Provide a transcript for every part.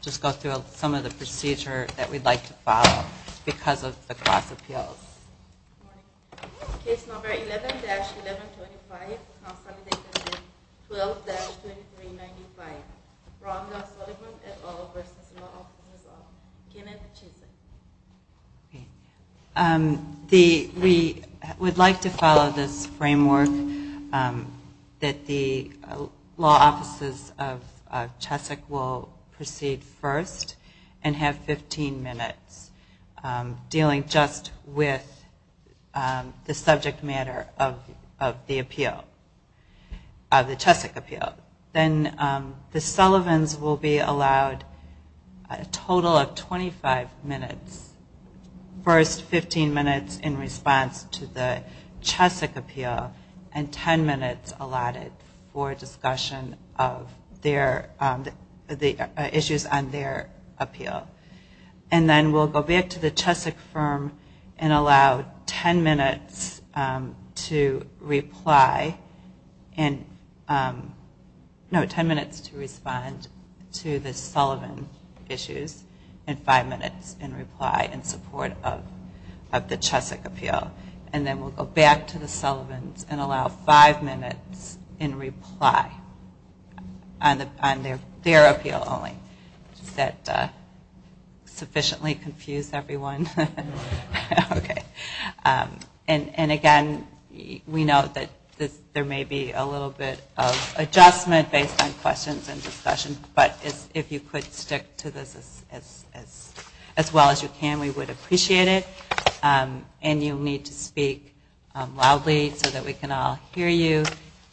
Just go through some of the procedure that we'd like to follow because of the class appeals. Case number 11-1125, Council of the Interested, 12-2395, Brown v. Sullivan et al. v. Law Office of Chessick. We would like to follow this framework that the Law Offices of Chessick will proceed first and have 15 minutes dealing just with the subject matter of the appeal, of the Chessick appeal. Then the Sullivans will be allowed a total of 25 minutes, first 15 minutes in response to the Chessick appeal and 10 minutes allotted for discussion of the issues on their appeal. Then we'll go back to the Chessick firm and allow 10 minutes to respond to the Sullivan issues and 5 minutes in reply in support of the Chessick appeal. Again, we know that there may be a little bit of adjustment based on questions and discussion, but if you could stick to this as well as you can, we would appreciate it. And you'll need to speak loudly so that we can all hear you.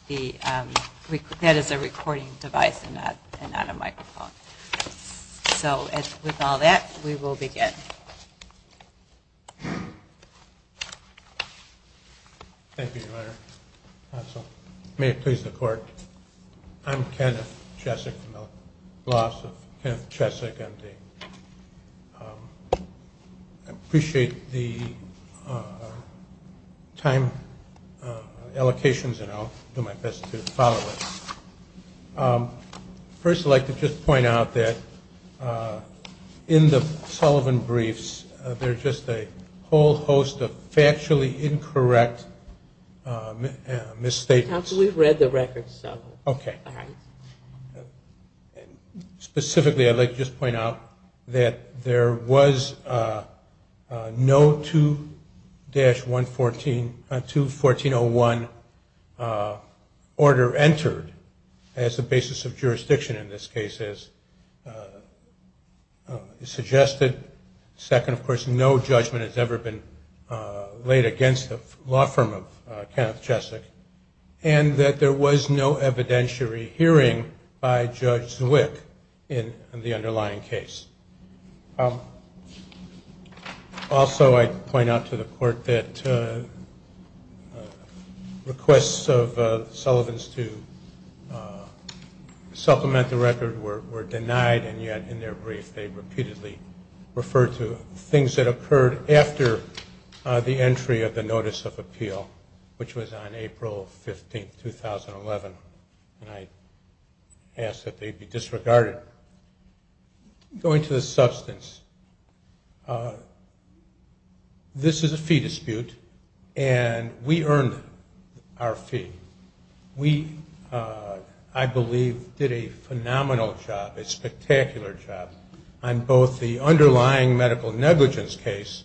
That is a recording device and not a microphone. So with all that, we will begin. Thank you, Your Honor. May it please the Court, I'm Kenneth Chessick from the Law Office of Kenneth Chessick. I appreciate the time allocations and I'll do my best to follow it. First, I'd like to just point out that in the Sullivan briefs, there are just a whole host of factually incorrect misstatements. We've read the records. Okay. Specifically, I'd like to just point out that there was no 2-1401 order entered as the basis of jurisdiction in this case as suggested. Second, of course, no judgment has ever been laid against the law firm of Kenneth Chessick. And that there was no evidentiary hearing by Judge Zwick in the underlying case. Also, I'd point out to the Court that requests of Sullivan's to supplement the record were denied, and yet in their brief they repeatedly referred to things that occurred after the entry of the Notice of Appeal, which was on April 15, 2011, and I asked that they be disregarded. Going to the substance, this is a fee dispute and we earned our fee. We, I believe, did a phenomenal job, a spectacular job, on both the underlying medical negligence case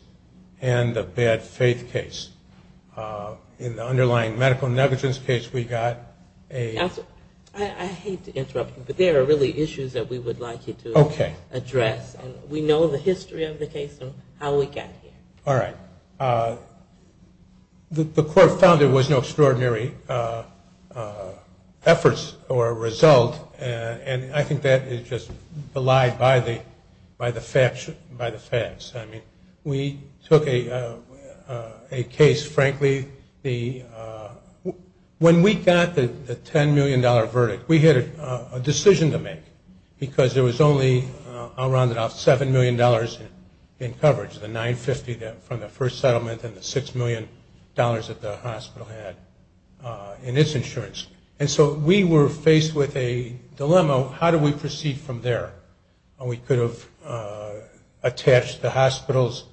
and the bad faith case. In the underlying medical negligence case we got a... Counsel, I hate to interrupt you, but there are really issues that we would like you to address. Okay. And we know the history of the case and how we got here. All right. The Court found there was no extraordinary efforts or result, and I think that is just belied by the facts. I mean, we took a case, frankly, the... When we got the $10 million verdict, we had a decision to make, because there was only, I'll round it off, $7 million in coverage, the $950 from the first settlement and the $6 million that the hospital had in its insurance. And so we were faced with a dilemma. How do we proceed from there? We could have attached the hospital's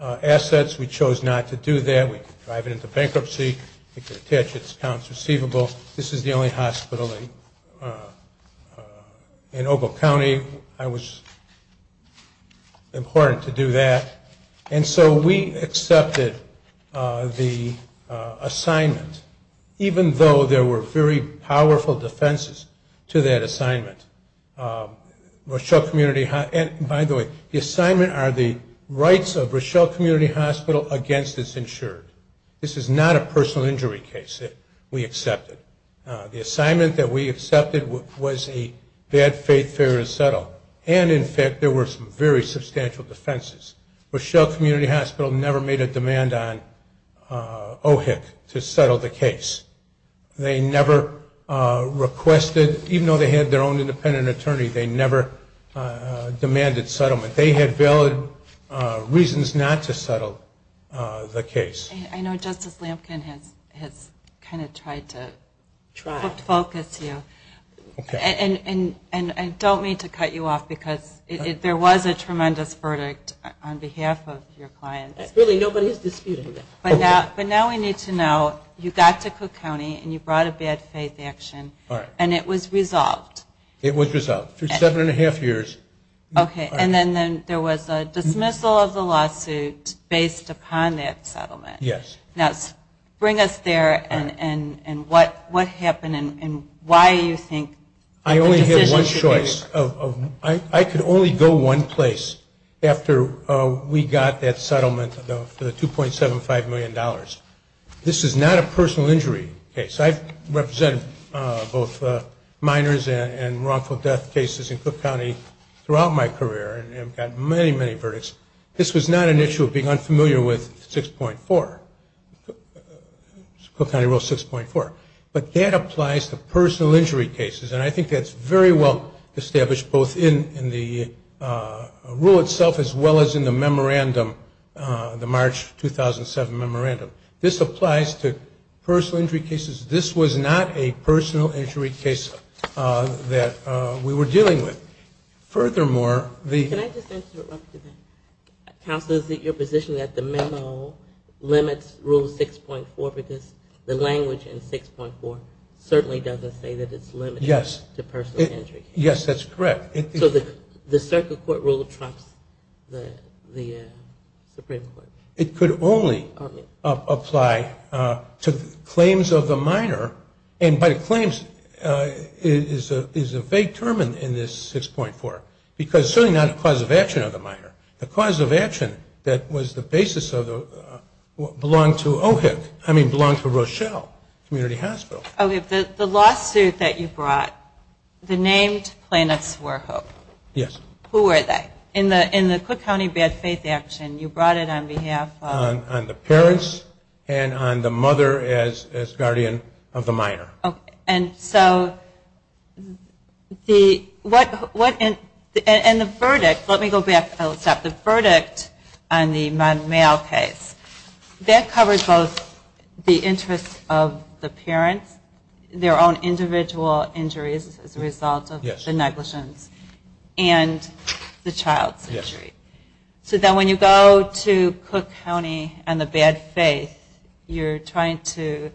assets. We chose not to do that. We could drive it into bankruptcy. We could attach its accounts receivable. This is the only hospital in Ogle County. It was important to do that. And so we accepted the assignment, even though there were very powerful defenses to that assignment. Rochelle Community... By the way, the assignment are the rights of Rochelle Community Hospital against its insurance. This is not a personal injury case that we accepted. The assignment that we accepted was a bad faith failure to settle. And, in fact, there were some very substantial defenses. Rochelle Community Hospital never made a demand on OHIC to settle the case. They never requested, even though they had their own independent attorney, they never demanded settlement. They had valid reasons not to settle the case. I know Justice Lampkin has kind of tried to focus you. And I don't mean to cut you off, because there was a tremendous verdict on behalf of your clients. Really, nobody is disputing that. But now we need to know you got to Cook County and you brought a bad faith action, and it was resolved. It was resolved. Through seven and a half years. Okay. And then there was a dismissal of the lawsuit based upon that settlement. Yes. Now, bring us there and what happened and why you think... I only had one choice. I could only go one place after we got that settlement for the $2.75 million. This is not a personal injury case. I've represented both minors and wrongful death cases in Cook County throughout my career and have gotten many, many verdicts. This was not an issue of being unfamiliar with 6.4, Cook County Rule 6.4. But that applies to personal injury cases, and I think that's very well established both in the rule itself as well as in the memorandum, the March 2007 memorandum. This applies to personal injury cases. This was not a personal injury case that we were dealing with. Furthermore, the... Can I just interrupt you there? Counsel, is it your position that the memo limits Rule 6.4 because the language in 6.4 certainly doesn't say that it's limited... Yes. ...to personal injury cases? Yes, that's correct. So the circuit court rule trumps the Supreme Court? It could only apply to claims of the minor, and by claims is a vague term in this 6.4, because certainly not a cause of action of the minor. The cause of action that was the basis of the...belonged to OHIC. I mean, belonged to Rochelle Community Hospital. Okay. The lawsuit that you brought, the named planets were hooked. Yes. Who were they? In the Cook County bad faith action, you brought it on behalf of... On the parents and on the mother as guardian of the minor. Okay. And so the...what...and the verdict, let me go back a step. The verdict on the male case, that covers both the interests of the parents, their own individual injuries as a result of the negligence, and the child's injury. Yes. So then when you go to Cook County and the bad faith, you're trying to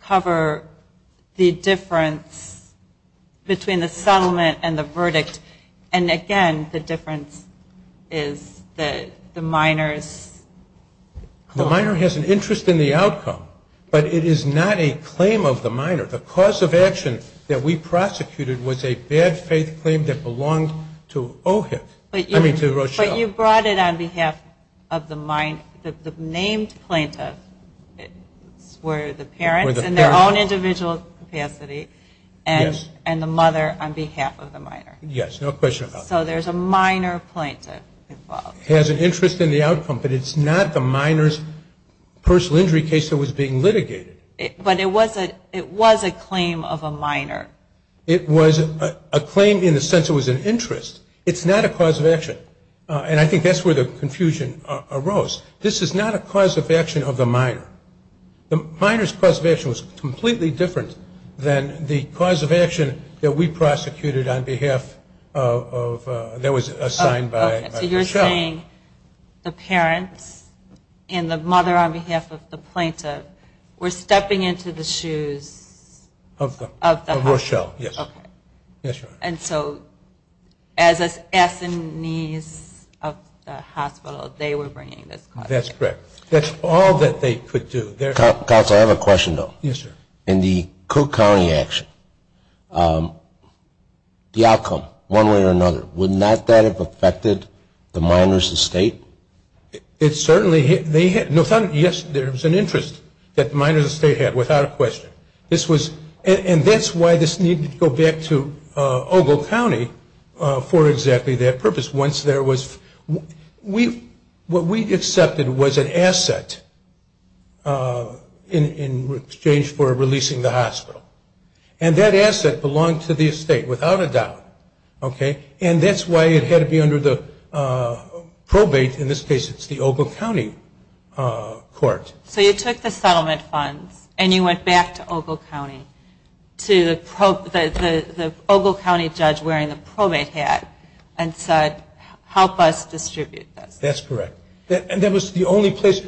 cover the difference between the settlement and the verdict, and again, the difference is the minor's... The minor has an interest in the outcome, but it is not a claim of the minor. The cause of action that we prosecuted was a bad faith claim that belonged to OHIC. I mean, to Rochelle. But you brought it on behalf of the named plaintiff, where the parents in their own individual capacity, and the mother on behalf of the minor. Yes, no question about that. So there's a minor plaintiff involved. Has an interest in the outcome, but it's not the minor's personal injury case that was being litigated. But it was a claim of a minor. It was a claim in the sense it was an interest. It's not a cause of action, and I think that's where the confusion arose. This is not a cause of action of the minor. The minor's cause of action was completely different than the cause of action that we prosecuted on behalf of... that was assigned by Rochelle. So you're saying the parents and the mother on behalf of the plaintiff were stepping into the shoes of the hospital. Of Rochelle, yes. Okay. Yes, Your Honor. And so as assennees of the hospital, they were bringing this claim. That's correct. That's all that they could do. Counsel, I have a question, though. Yes, sir. In the Cook County action, the outcome, one way or another, would not that have affected the minor's estate? It certainly had. Yes, there was an interest that the minor's estate had, without a question. And that's why this needed to go back to Ogle County for exactly that purpose. What we accepted was an asset in exchange for releasing the hospital. And that asset belonged to the estate, without a doubt. And that's why it had to be under the probate, in this case it's the Ogle County court. So you took the settlement funds and you went back to Ogle County, the Ogle County judge wearing the probate hat, and said, help us distribute this. That's correct. And that was the only place,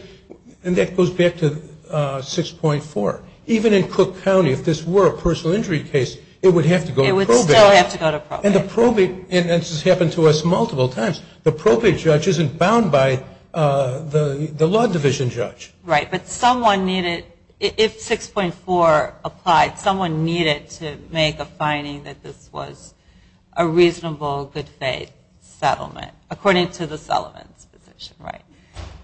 and that goes back to 6.4. Even in Cook County, if this were a personal injury case, it would have to go to probate. It would still have to go to probate. And the probate, and this has happened to us multiple times, the probate judge isn't bound by the law division judge. Right. But someone needed, if 6.4 applied, someone needed to make a finding that this was a reasonable, good faith settlement. According to the settlement's position, right.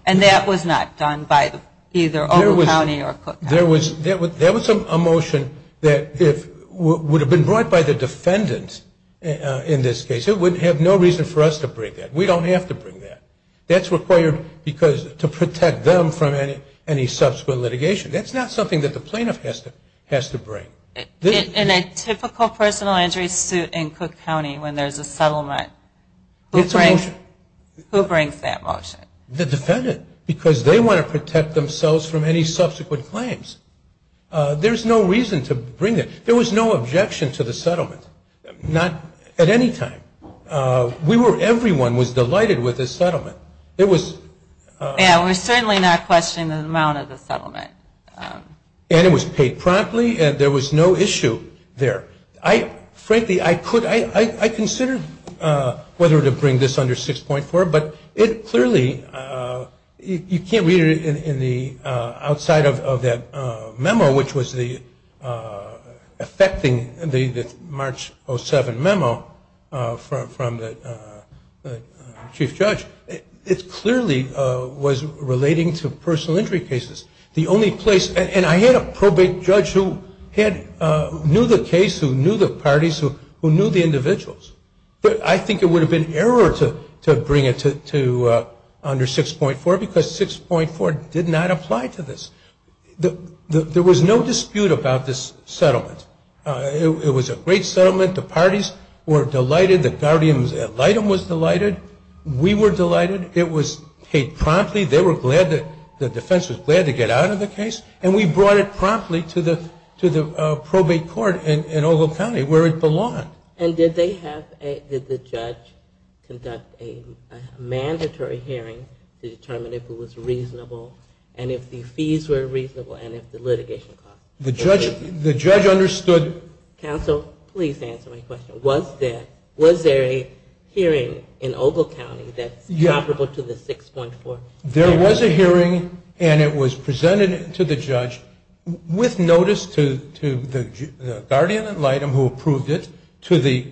And that was not done by either Ogle County or Cook County. There was a motion that would have been brought by the defendant in this case. It would have no reason for us to bring that. We don't have to bring that. That's required because to protect them from any subsequent litigation. That's not something that the plaintiff has to bring. In a typical personal injury suit in Cook County when there's a settlement, who brings that motion? The defendant. Because they want to protect themselves from any subsequent claims. There's no reason to bring it. There was no objection to the settlement. Not at any time. We were, everyone was delighted with the settlement. Yeah, we're certainly not questioning the amount of the settlement. And it was paid promptly and there was no issue there. Frankly, I could, I considered whether to bring this under 6.4, but it clearly, you can't read it outside of that memo, which was affecting the March 07 memo from the chief judge. It clearly was relating to personal injury cases. The only place, and I had a probate judge who knew the case, who knew the parties, who knew the individuals. But I think it would have been error to bring it under 6.4 because 6.4 did not apply to this. There was no dispute about this settlement. It was a great settlement. The parties were delighted. The guardians at Lytton was delighted. We were delighted. It was paid promptly. They were glad, the defense was glad to get out of the case. And we brought it promptly to the probate court in Ogle County where it belonged. And did they have, did the judge conduct a mandatory hearing to determine if it was reasonable? And if the fees were reasonable? And if the litigation cost was reasonable? The judge understood. Counsel, please answer my question. Was there a hearing in Ogle County that's comparable to the 6.4? There was a hearing, and it was presented to the judge with notice to the guardian at Lytton who approved it, to the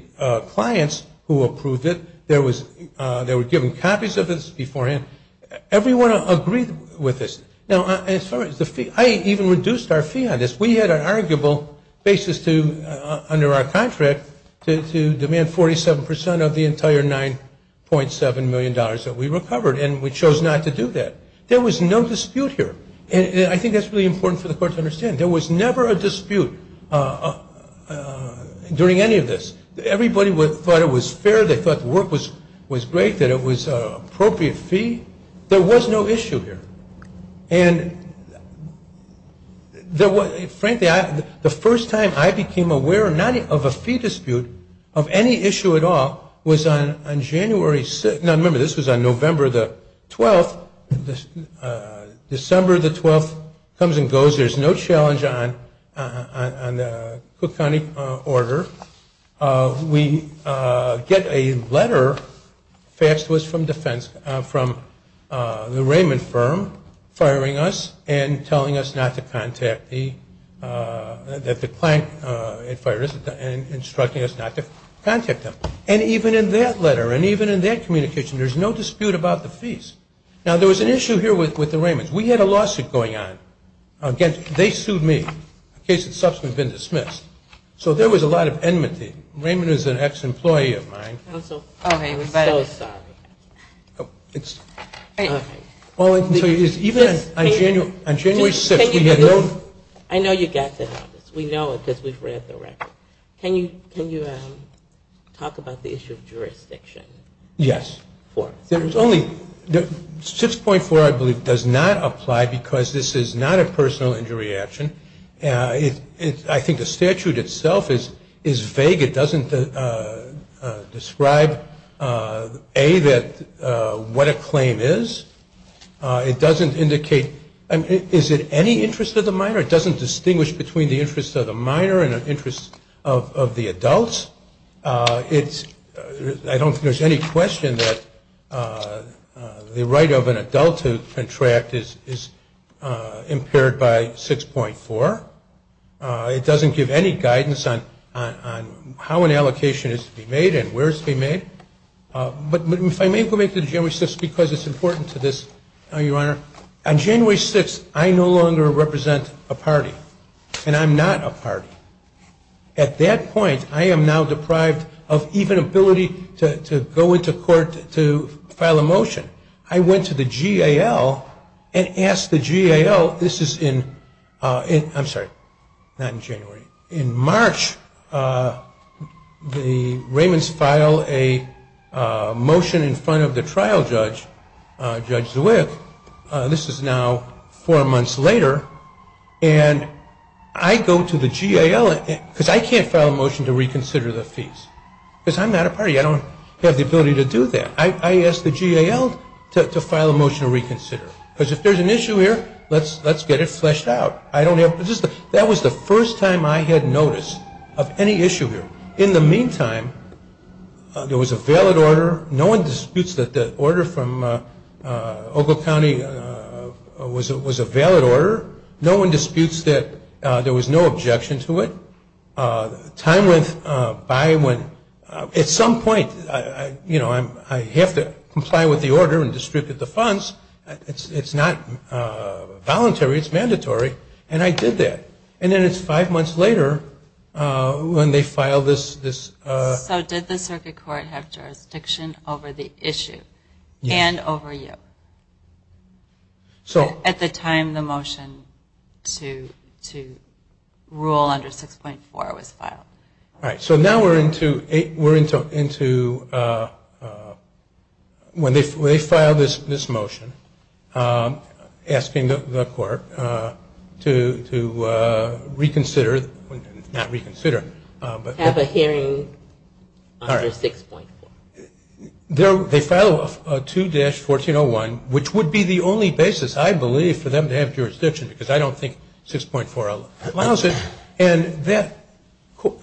clients who approved it. They were given copies of this beforehand. Everyone agreed with this. Now, as far as the fee, I even reduced our fee on this. We had an arguable basis to, under our contract, to demand 47% of the entire $9.7 million that we recovered. And we chose not to do that. There was no dispute here. And I think that's really important for the court to understand. There was never a dispute during any of this. Everybody thought it was fair. They thought the work was great. They didn't think that it was an appropriate fee. There was no issue here. And frankly, the first time I became aware of a fee dispute, of any issue at all, was on January 6th. Now, remember, this was on November 12th. December 12th comes and goes. There's no challenge on the Cook County order. We get a letter, faxed to us from defense, from the Raymond firm, firing us and telling us not to contact the, that the client had fired us and instructing us not to contact them. And even in that letter and even in that communication, there's no dispute about the fees. Now, there was an issue here with the Raymonds. We had a lawsuit going on. Again, they sued me. The case had subsequently been dismissed. So there was a lot of enmity. Raymond is an ex-employee of mine. I'm so sorry. It's okay. Even on January 6th, we had no. I know you got that on us. We know it because we've read the record. Can you talk about the issue of jurisdiction? Yes. There's only, 6.4, I believe, does not apply because this is not a personal injury action. I think the statute itself is vague. It doesn't describe, A, what a claim is. It doesn't indicate, is it any interest of the minor? It doesn't distinguish between the interest of the minor and the interest of the adults. I don't think there's any question that the right of an adult to contract is impaired by 6.4. It doesn't give any guidance on how an allocation is to be made and where it's to be made. But if I may go back to January 6th because it's important to this, Your Honor. On January 6th, I no longer represent a party, and I'm not a party. At that point, I am now deprived of even ability to go into court to file a motion. I went to the GAL and asked the GAL, this is in, I'm sorry, not in January. In March, the Raimonds file a motion in front of the trial judge, Judge Zwick. This is now four months later, and I go to the GAL, because I can't file a motion to reconsider the fees. Because I'm not a party. I don't have the ability to do that. I asked the GAL to file a motion to reconsider. Because if there's an issue here, let's get it fleshed out. I don't have, that was the first time I had notice of any issue here. In the meantime, there was a valid order. No one disputes that the order from Ogle County was a valid order. No one disputes that there was no objection to it. Time went by when, at some point, you know, I have to comply with the order and distribute the funds. It's not voluntary. It's mandatory. And I did that. And then it's five months later when they file this. So did the circuit court have jurisdiction over the issue? Yes. And over you? So. At the time the motion to rule under 6.4 was filed. All right. So now we're into, when they file this motion, asking the court to reconsider, not reconsider. Have a hearing under 6.4. They file a 2-1401, which would be the only basis, I believe, for them to have jurisdiction. Because I don't think 6.4 allows it. And that,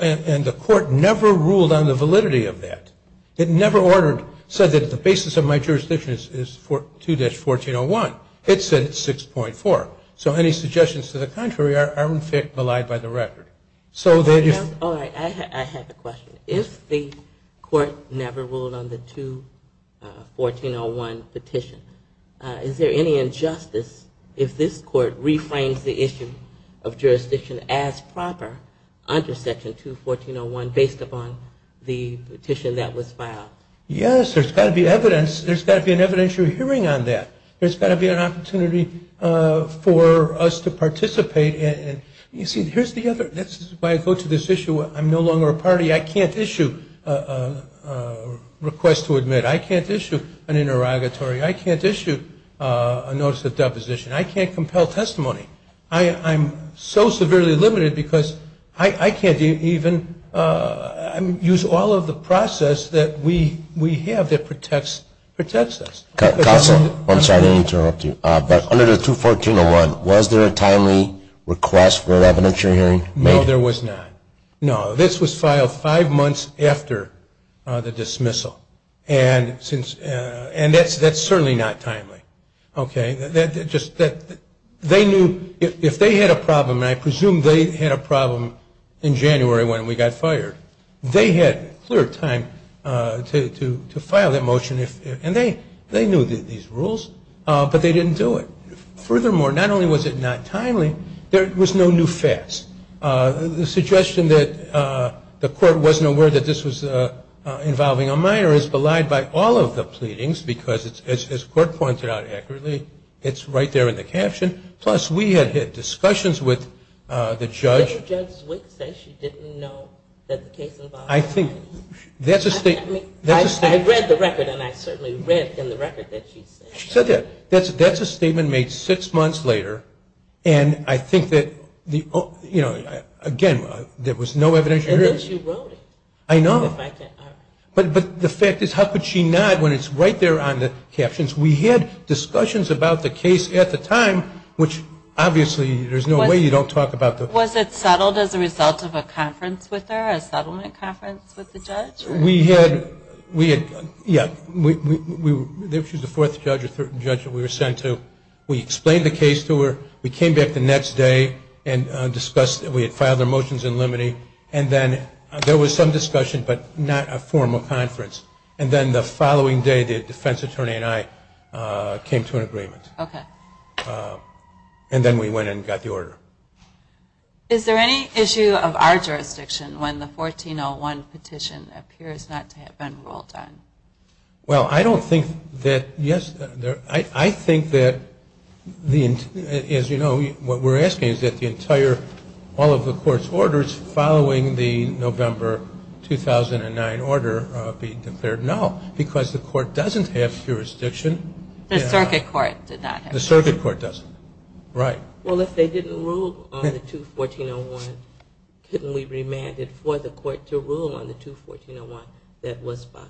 and the court never ruled on the validity of that. It never ordered, said that the basis of my jurisdiction is 2-1401. It said 6.4. So any suggestions to the contrary are in fact maligned by the record. All right. I have a question. If the court never ruled on the 2-1401 petition, is there any injustice if this court reframes the issue of jurisdiction as proper under Section 2-1401 based upon the petition that was filed? Yes. There's got to be evidence. There's got to be an evidentiary hearing on that. There's got to be an opportunity for us to participate. You see, here's the other, this is why I go to this issue. I'm no longer a party. I can't issue a request to admit. I can't issue an interrogatory. I can't issue a notice of deposition. I can't compel testimony. I'm so severely limited because I can't even use all of the process that we have that protects us. Counsel, I'm sorry to interrupt you. Under the 2-1401, was there a timely request for an evidentiary hearing? No, there was not. No. This was filed five months after the dismissal, and that's certainly not timely. Okay? They knew if they had a problem, and I presume they had a problem in January when we got fired, they had clear time to file that motion, and they knew these rules, but they didn't do it. Furthermore, not only was it not timely, there was no new facts. The suggestion that the court wasn't aware that this was involving a minor is belied by all of the pleadings because, as the court pointed out accurately, it's right there in the caption. Plus, we had had discussions with the judge. Didn't Judge Zwick say she didn't know that the case involved a minor? I think that's a statement. I read the record, and I certainly read in the record that she said that. She said that. That's a statement made six months later, and I think that, you know, again, there was no evidentiary hearing. And then she wrote it. I know. But the fact is, how could she not, when it's right there on the captions? We had discussions about the case at the time, which, obviously, there's no way you don't talk about the Was it settled as a result of a conference with her, a settlement conference with the judge? We had, yeah, she was the fourth judge or third judge that we were sent to. We explained the case to her. We came back the next day and discussed it. We had filed our motions in limine. And then there was some discussion, but not a formal conference. And then we went and got the order. Is there any issue of our jurisdiction when the 1401 petition appears not to have been ruled on? Well, I don't think that, yes, I think that the, as you know, what we're asking is that the entire, all of the court's orders following the November 2009 order be declared no, because the court doesn't have jurisdiction. The circuit court did not have jurisdiction. The circuit court doesn't. Right. Well, if they didn't rule on the 21401, couldn't we remand it for the court to rule on the 21401 that was filed?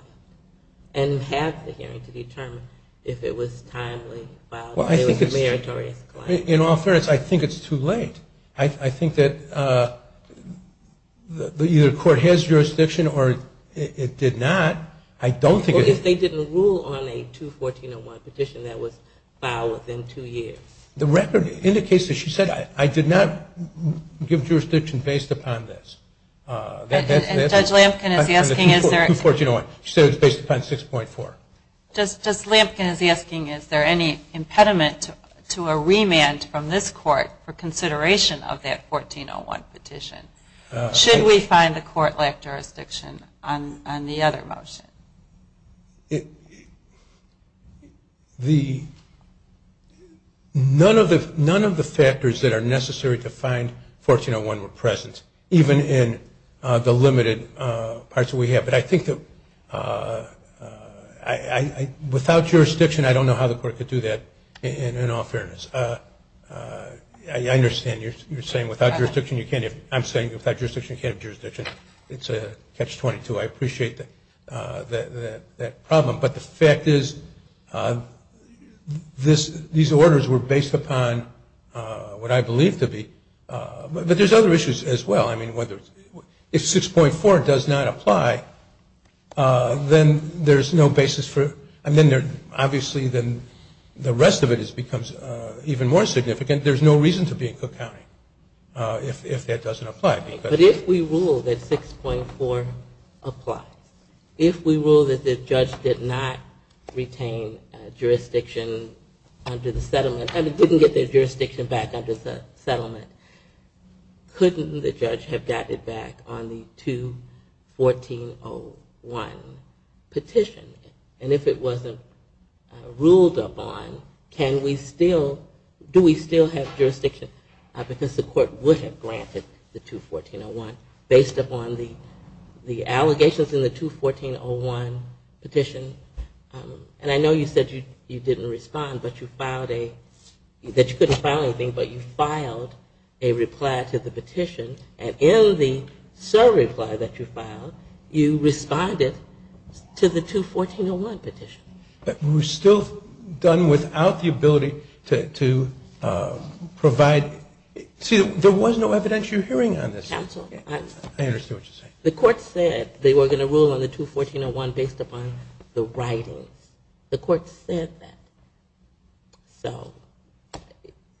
And have the hearing to determine if it was timely while there was a meritorious claim. In all fairness, I think it's too late. I think that either the court has jurisdiction or it did not. Well, if they didn't rule on a 21401 petition that was filed within two years. The record indicates that she said I did not give jurisdiction based upon this. And Judge Lampkin is asking is there. 21401. She said it was based upon 6.4. Judge Lampkin is asking is there any impediment to a remand from this court for consideration of that 1401 petition? Should we find the court lacked jurisdiction on the other motion? None of the factors that are necessary to find 1401 were present, even in the limited parts that we have. But I think that without jurisdiction, I don't know how the court could do that in all fairness. I understand you're saying without jurisdiction you can't. I'm saying without jurisdiction you can't have jurisdiction. It's a catch-22. I appreciate that problem. But the fact is these orders were based upon what I believe to be. But there's other issues as well. I mean, if 6.4 does not apply, then there's no basis for it. Obviously, then the rest of it becomes even more significant. There's no reason to be in Cook County if that doesn't apply. But if we rule that 6.4 applies, if we rule that the judge did not retain jurisdiction under the settlement and didn't get their jurisdiction back under the settlement, couldn't the judge have gotten it back on the 21401 petition? And if it wasn't ruled upon, do we still have jurisdiction? Because the court would have granted the 21401 based upon the allegations in the 21401 petition. And I know you said you didn't respond, that you couldn't file anything, but you filed a reply to the petition. And in the survey reply that you filed, you responded to the 21401 petition. But we're still done without the ability to provide. See, there was no evidentiary hearing on this. Counsel. I understand what you're saying. The court said they were going to rule on the 21401 based upon the writings. The court said that. So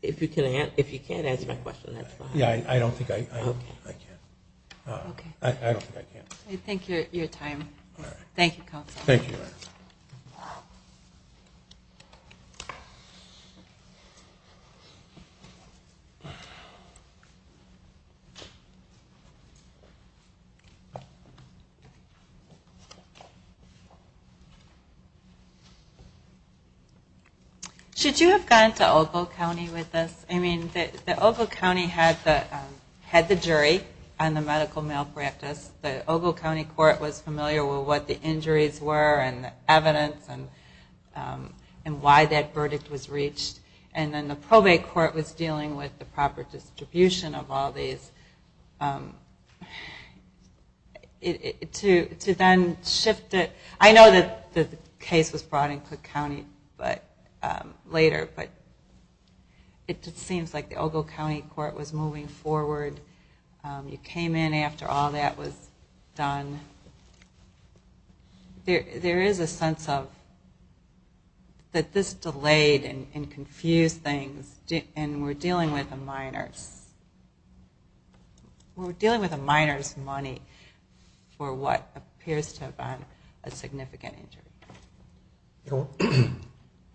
if you can't answer my question, that's fine. Yeah, I don't think I can. I don't think I can. I thank you for your time. Thank you, Counsel. Thank you. Should you have gone to Ogle County with this? I mean, the Ogle County had the jury on the medical malpractice. The Ogle County court was familiar with what the injuries were and the evidence and why that verdict was reached. And then the probate court was dealing with the proper distribution of all these. To then shift it. I know that the case was brought in Cook County later. But it seems like the Ogle County court was moving forward. You came in after all that was done. There is a sense that this delayed and confused things. And we're dealing with the minors. We're dealing with the minors' money for what appears to have been a significant injury.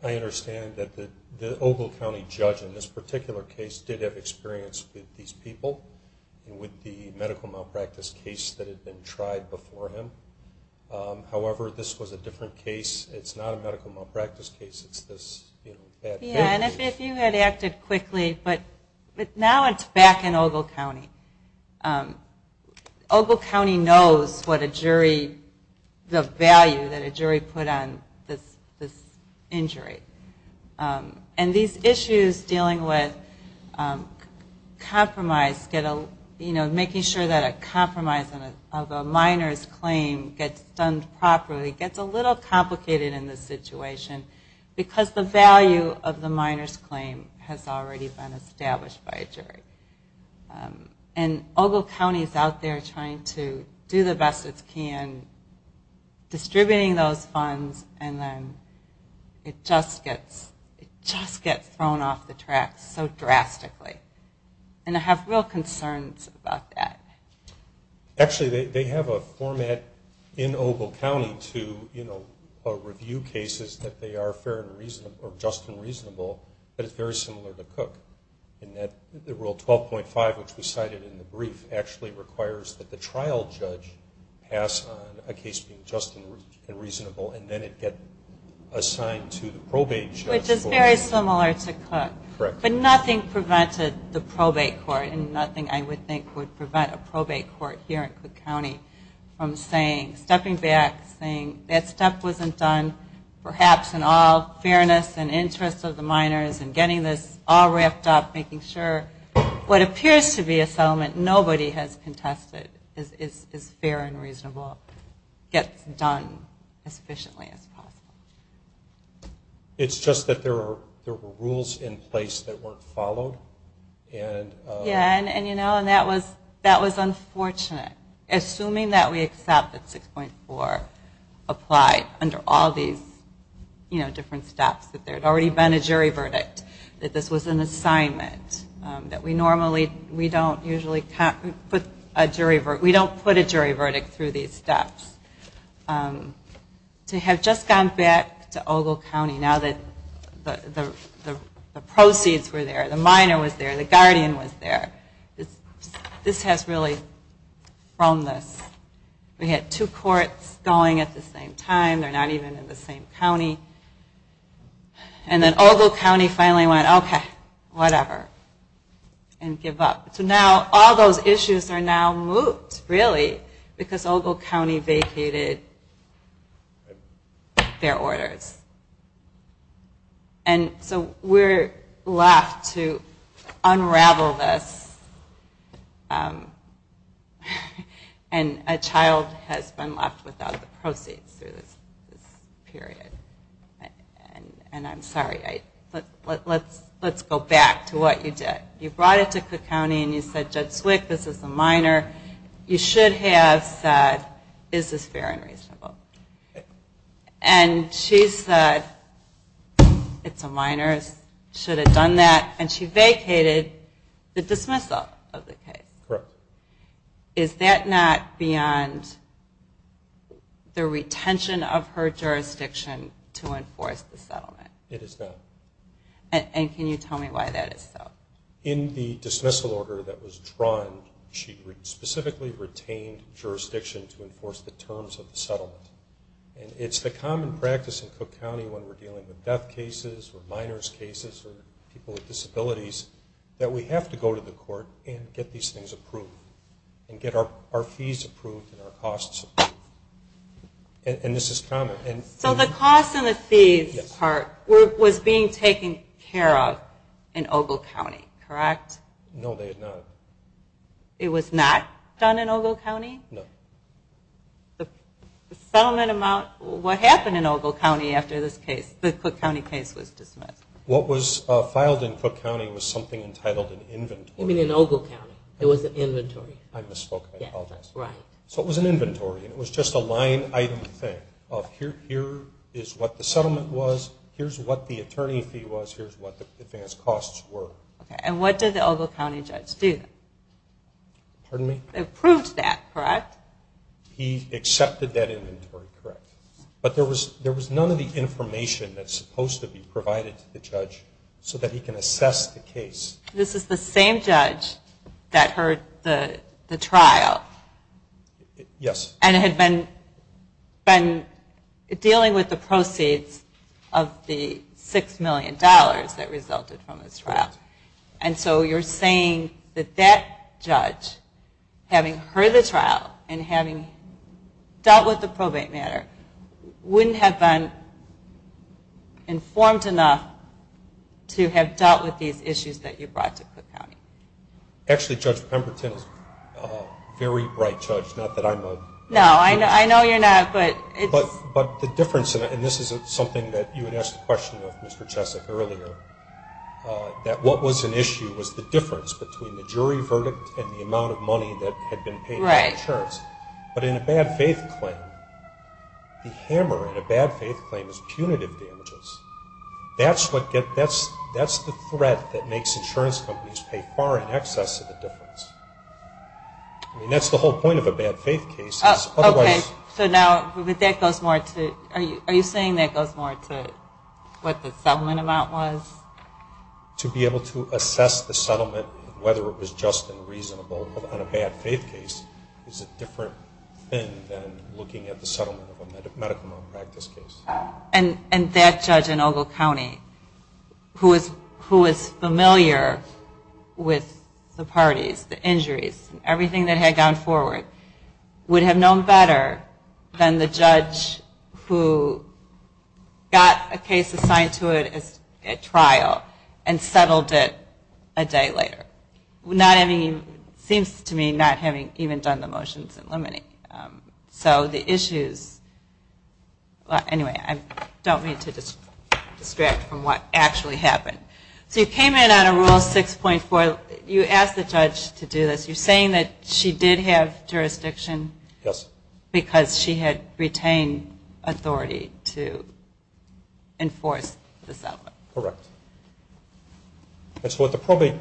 I understand that the Ogle County judge in this particular case did have experience with these people. With the medical malpractice case that had been tried before him. However, this was a different case. It's not a medical malpractice case. It's this bad case. And if you had acted quickly. But now it's back in Ogle County. Ogle County knows what a jury, the value that a jury put on this injury. And these issues dealing with compromise, making sure that a compromise of a minor's claim gets done properly, gets a little complicated in this situation. Because the value of the minor's claim has already been established by a jury. And Ogle County is out there trying to do the best it can. Distributing those funds and then it just gets thrown off the track so drastically. And I have real concerns about that. Actually, they have a format in Ogle County to review cases that they are fair and reasonable or just and reasonable that is very similar to Cook. Rule 12.5, which was cited in the brief, actually requires that the trial judge pass on a case being just and reasonable and then it get assigned to the probate judge. Which is very similar to Cook. Correct. But nothing prevented the probate court, and nothing I would think would prevent a probate court here in Cook County from stepping back and saying that stuff wasn't done. Perhaps in all fairness and interest of the minors and getting this all wrapped up, making sure what appears to be a settlement nobody has contested is fair and reasonable, gets done as efficiently as possible. It's just that there were rules in place that weren't followed. Yeah, and that was unfortunate. Assuming that we accept that 6.4 applied under all these different steps, that there had already been a jury verdict, that this was an assignment, that we don't usually put a jury verdict through these steps. To have just gone back to Ogle County, now that the proceeds were there, the minor was there, the guardian was there. This has really thrown this. We had two courts going at the same time. They're not even in the same county. And then Ogle County finally went, okay, whatever, and give up. So now all those issues are now moot, really, because Ogle County vacated their orders. And so we're left to unravel this. And a child has been left without the proceeds through this period. And I'm sorry. Let's go back to what you did. You brought it to Cook County and you said, Judge Swick, this is a minor. You should have said, is this fair and reasonable? And she said, it's a minor, should have done that. And she vacated the dismissal of the case. Correct. Is that not beyond the retention of her jurisdiction to enforce the settlement? It is not. And can you tell me why that is so? In the dismissal order that was drawn, she specifically retained jurisdiction to enforce the terms of the settlement. And it's the common practice in Cook County when we're dealing with death cases or minor's cases or people with disabilities, that we have to go to the court and get these things approved and get our fees approved and our costs approved. And this is common. So the costs and the fees part was being taken care of in Ogle County, correct? No, they had not. It was not done in Ogle County? No. The settlement amount, what happened in Ogle County after this case, the Cook County case was dismissed? What was filed in Cook County was something entitled an inventory. You mean in Ogle County. I misspoke. I apologize. So it was an inventory. It was just a line item thing of here is what the settlement was, here's what the attorney fee was, here's what the advance costs were. And what did the Ogle County judge do? Pardon me? They approved that, correct? He accepted that inventory, correct. But there was none of the information that's supposed to be provided to the judge so that he can assess the case. This is the same judge that heard the trial? Yes. And had been dealing with the proceeds of the $6 million that resulted from this trial? Correct. And so you're saying that that judge, having heard the trial and having dealt with the probate matter, wouldn't have been informed enough to have dealt with these issues that you brought to Cook County? Actually, Judge Pemberton is a very bright judge, not that I'm a... No, I know you're not, but... But the difference, and this is something that you had asked the question of, Mr. Chesek, earlier, that what was an issue was the difference between the jury verdict and the amount of money that had been paid for insurance. But in a bad faith claim, the hammer in a bad faith claim is punitive damages. That's the threat that makes insurance companies pay far in excess of the difference. I mean, that's the whole point of a bad faith case. Okay. So now, but that goes more to... Are you saying that goes more to what the settlement amount was? To be able to assess the settlement and whether it was just and reasonable on a bad faith case is a different thing than looking at the settlement of a medical malpractice case. And that judge in Ogle County, who was familiar with the parties, the injuries, everything that had gone forward, would have known better than the judge who got a case assigned to it at trial and settled it a day later. Not having, it seems to me, not having even done the motions in limine. So the issues, anyway, I don't mean to distract from what actually happened. So you came in on a Rule 6.4. You asked the judge to do this. You're saying that she did have jurisdiction? Yes. Because she had retained authority to enforce the settlement. Correct. And so what the probate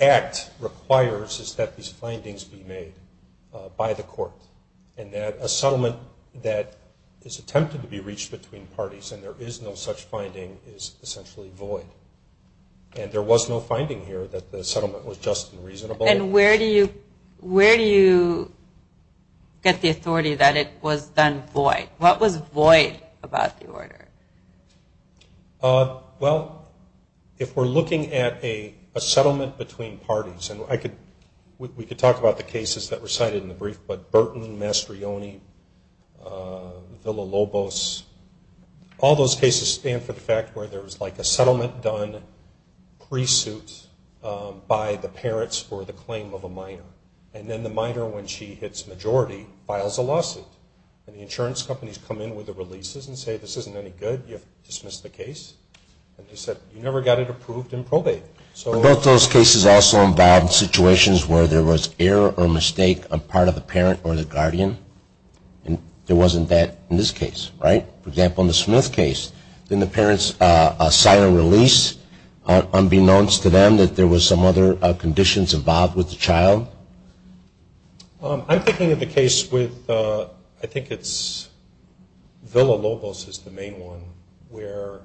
act requires is that these findings be made by the court and that a settlement that is attempted to be reached between parties and there is no such finding is essentially void. And there was no finding here that the settlement was just and reasonable. And where do you get the authority that it was then void? What was void about the order? Well, if we're looking at a settlement between parties, and we could talk about the cases that were cited in the brief, but Burton, Mastrioni, Villa-Lobos, all those cases stand for the fact where there was, like, a settlement done pre-suit by the parents for the claim of a minor. And then the minor, when she hits majority, files a lawsuit. And the insurance companies come in with the releases and say, this isn't any good, you have to dismiss the case. And they said, you never got it approved in probate. Were both those cases also involved in situations where there was error or mistake on part of the parent or the guardian? And there wasn't that in this case, right? For example, in the Smith case, didn't the parents sign a release unbeknownst to them that there was some other conditions involved with the child? I'm thinking of the case with, I think it's Villa-Lobos is the main one, where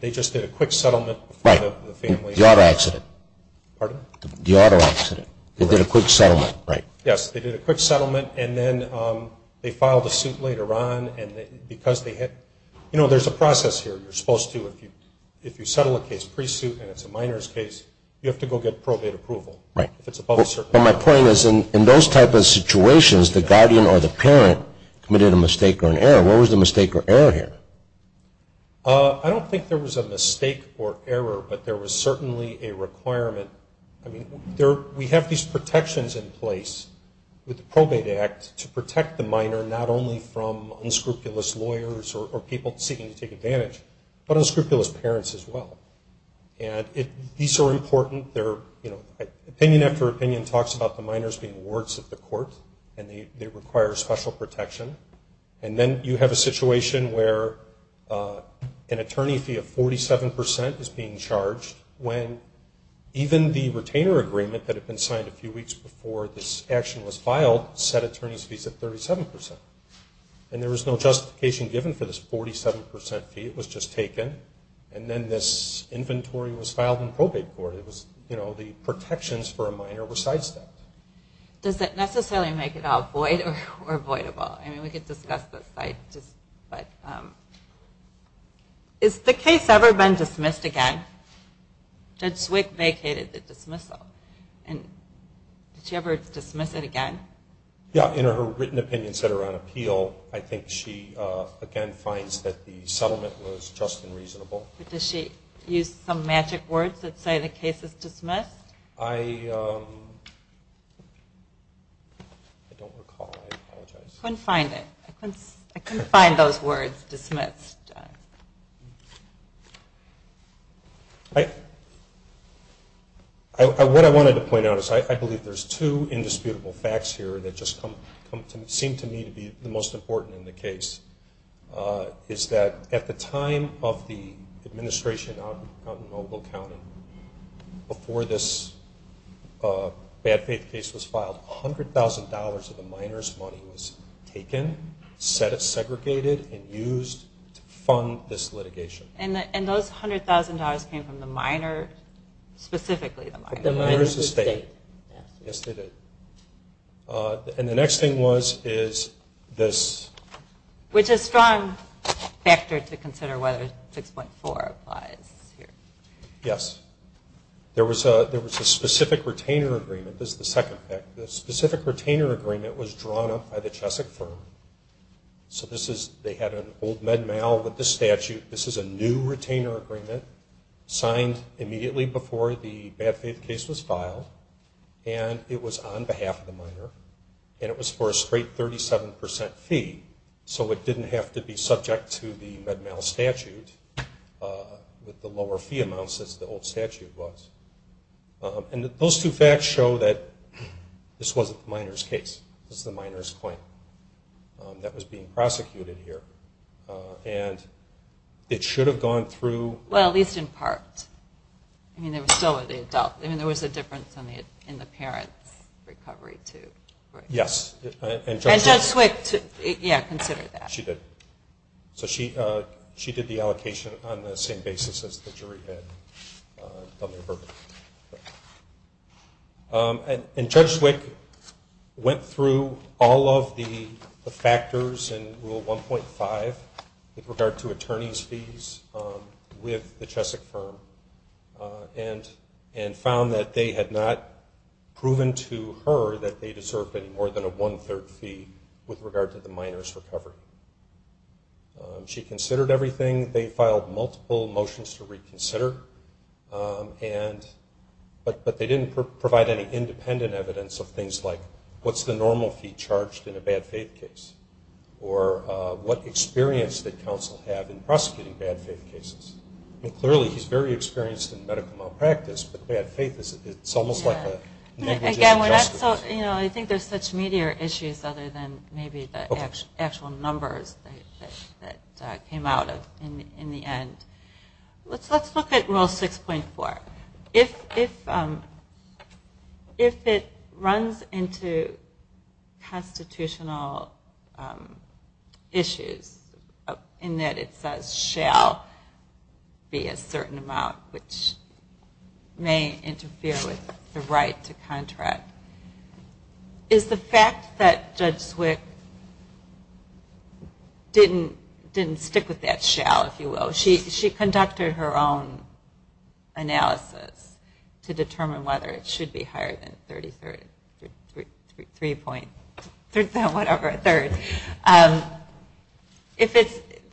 they just did a quick settlement. Right. The auto accident. Pardon? The auto accident. They did a quick settlement. Right. Yes, they did a quick settlement. And then they filed a suit later on. And because they hit, you know, there's a process here. You're supposed to, if you settle a case pre-suit and it's a minor's case, you have to go get probate approval. Right. If it's above a certain level. But my point is, in those type of situations, the guardian or the parent committed a mistake or an error. What was the mistake or error here? I don't think there was a mistake or error, but there was certainly a requirement. I mean, we have these protections in place with the Probate Act to protect the minor not only from unscrupulous lawyers or people seeking to take advantage, but unscrupulous parents as well. And these are important. Opinion after opinion talks about the minors being wards of the court and they require special protection. And then you have a situation where an attorney fee of 47% is being charged when even the retainer agreement that had been signed a few weeks before this action was filed set attorney's fees at 37%. And there was no justification given for this 47% fee. It was just taken. And then this inventory was filed in probate court. The protections for a minor were sidestepped. Does that necessarily make it all void or avoidable? I mean, we could discuss this. Has the case ever been dismissed again? Judge Zwick vacated the dismissal. Did she ever dismiss it again? Yeah. In her written opinions that are on appeal, I think she, again, finds that the settlement was just and reasonable. But does she use some magic words that say the case is dismissed? I don't recall. I apologize. I couldn't find it. I couldn't find those words, dismissed. What I wanted to point out is I believe there's two indisputable facts here that just seem to me to be the most important in the case, is that at the time of the administration out in Noble County, before this bad faith case was filed, $100,000 of the minor's money was taken, segregated, and used to fund this litigation. And those $100,000 came from the minor, specifically the minor? The minor's estate. Yes, they did. And the next thing was is this. Which is a strong factor to consider whether 6.4 applies here. Yes. There was a specific retainer agreement. This is the second fact. The specific retainer agreement was drawn up by the Cheswick firm. So they had an old med mal with the statute. This is a new retainer agreement signed immediately before the bad faith case was filed. And it was on behalf of the minor. And it was for a straight 37% fee, so it didn't have to be subject to the med mal statute with the lower fee amounts as the old statute was. And those two facts show that this wasn't the minor's case. This is the minor's claim that was being prosecuted here. And it should have gone through. Well, at least in part. I mean, there was still the adult. I mean, there was a difference in the parent's recovery, too. Yes. And Judge Swick, yeah, considered that. She did. So she did the allocation on the same basis as the jury did. And Judge Swick went through all of the factors in Rule 1.5 with regard to found that they had not proven to her that they deserved any more than a one-third fee with regard to the minor's recovery. She considered everything. They filed multiple motions to reconsider. But they didn't provide any independent evidence of things like what's the normal fee charged in a bad faith case or what experience did counsel have in prosecuting bad faith cases. Clearly, he's very experienced in medical malpractice, but bad faith is almost like a negligent justice. I think there's such meatier issues other than maybe the actual numbers that came out in the end. Let's look at Rule 6.4. If it runs into constitutional issues in that it says shall be a certain amount, which may interfere with the right to contract, is the fact that Judge Swick didn't stick with that shall, if you will. She conducted her own analysis to determine whether it should be higher than a third.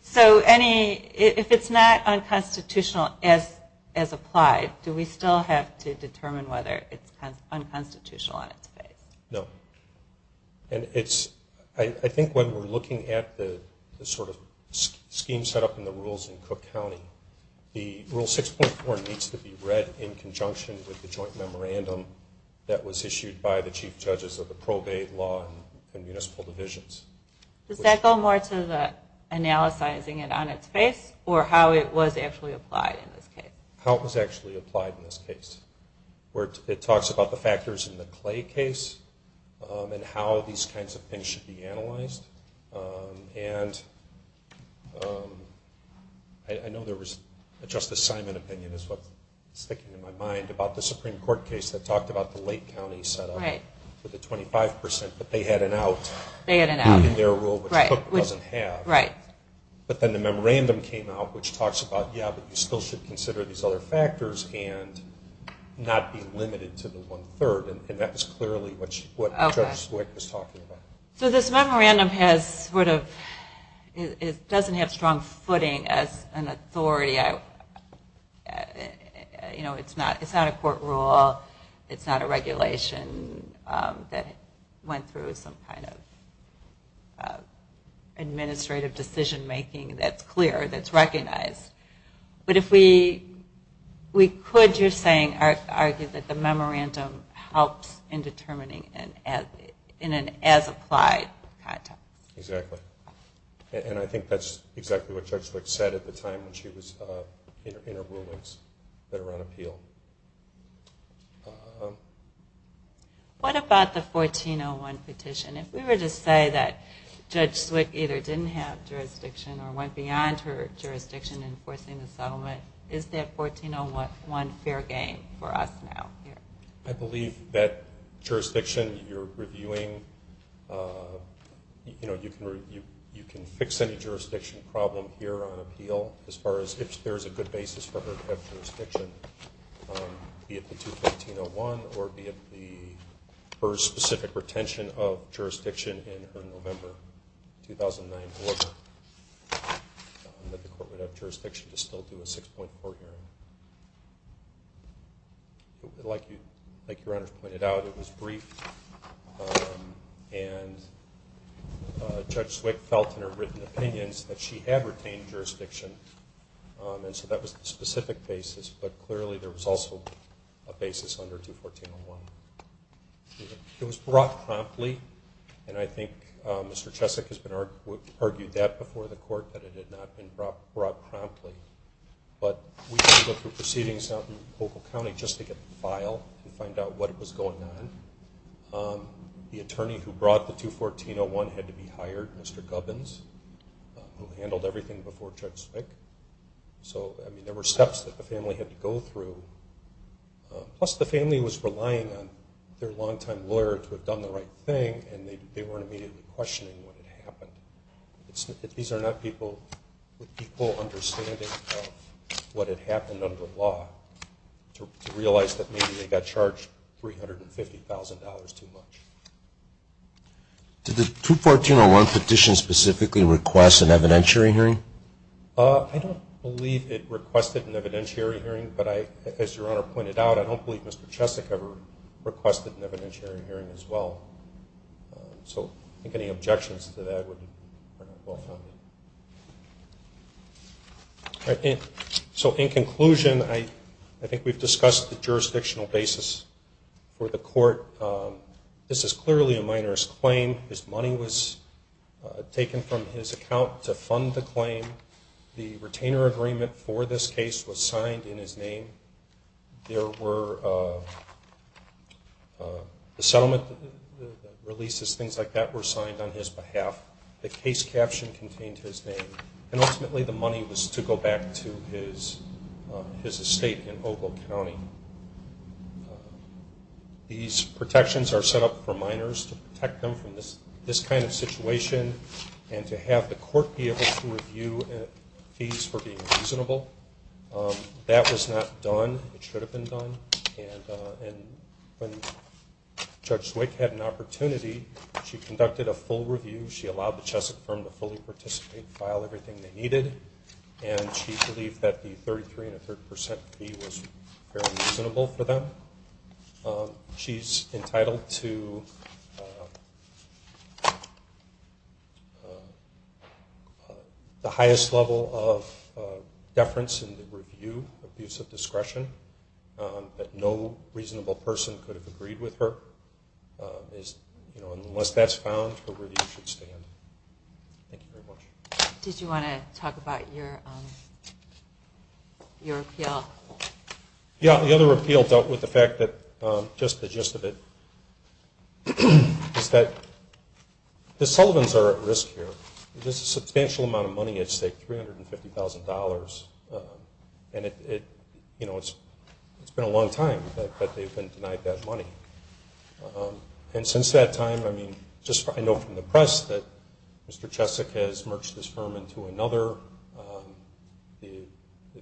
So if it's not unconstitutional as applied, do we still have to determine whether it's unconstitutional on its face? No. I think when we're looking at the scheme set up in the rules in Cook County, the Rule 6.4 needs to be read in conjunction with the joint memorandum that was issued by the chief judges of the probate law and municipal divisions. Does that go more to the analyzing it on its face or how it was actually applied in this case? How it was actually applied in this case. It talks about the factors in the Clay case and how these kinds of things should be analyzed. I know there was a Justice Simon opinion is what's sticking in my mind about the Supreme Court case that talked about the Lake County setup with the 25%, but they had an out in their rule, which Cook doesn't have. But then the memorandum came out, which talks about, yeah, you still should consider these other factors and not be limited to the one-third. And that was clearly what Judge Wick was talking about. So this memorandum doesn't have strong footing as an authority. It's not a court rule. It's not a regulation that went through some kind of administrative decision-making that's clear, that's recognized. But we could, you're saying, argue that the memorandum helps in determining in an as-applied context. Exactly. And I think that's exactly what Judge Wick said at the time when she was in her rulings that were on appeal. What about the 1401 petition? If we were to say that Judge Wick either didn't have jurisdiction or went beyond her jurisdiction in enforcing the settlement, is that 1401 fair game for us now? I believe that jurisdiction you're reviewing, you know, you can fix any jurisdiction problem here on appeal as far as if there's a good basis for her to have jurisdiction, be it the 215.01 or be it her specific retention of jurisdiction in her November 2009 order that the court would have jurisdiction to still do a 6.4 hearing. Like your honors pointed out, it was brief, and Judge Wick felt in her written opinions that she had retained jurisdiction, and so that was the specific basis. But clearly there was also a basis under 214.01. It was brought promptly, and I think Mr. Cheswick has argued that before the court, that it had not been brought promptly. But we did go through proceedings out in the local county just to get the file and find out what was going on. The attorney who brought the 214.01 had to be hired, Mr. Gubbins, who handled everything before Judge Wick. So, I mean, there were steps that the family had to go through. Plus the family was relying on their longtime lawyer to have done the right thing, and they weren't immediately questioning what had happened. These are not people with equal understanding of what had happened under law to realize that maybe they got charged $350,000 too much. Did the 214.01 petition specifically request an evidentiary hearing? I don't believe it requested an evidentiary hearing. But as Your Honor pointed out, I don't believe Mr. Cheswick ever requested an evidentiary hearing as well. So I think any objections to that would be well-founded. So in conclusion, I think we've discussed the jurisdictional basis for the court. This is clearly a minor's claim. His money was taken from his account to fund the claim. The retainer agreement for this case was signed in his name. There were the settlement releases, things like that, were signed on his behalf. The case caption contained his name. And ultimately the money was to go back to his estate in Ogle County. These protections are set up for minors to protect them from this kind of situation and to have the court be able to review fees for being reasonable. That was not done. It should have been done. And when Judge Zwick had an opportunity, she conducted a full review. She allowed the Cheswick firm to fully participate and file everything they needed. And she believed that the 33 and a third percent fee was fairly reasonable for them. She's entitled to the highest level of deference in the review, abuse of discretion, that no reasonable person could have agreed with her. Unless that's found, her review should stand. Thank you very much. Did you want to talk about your appeal? Yeah, the other appeal dealt with the fact that, just the gist of it, is that the Sullivans are at risk here. There's a substantial amount of money at stake, $350,000. And it's been a long time that they've been denied that money. And since that time, I know from the press that Mr. Cheswick has merged his firm into another. The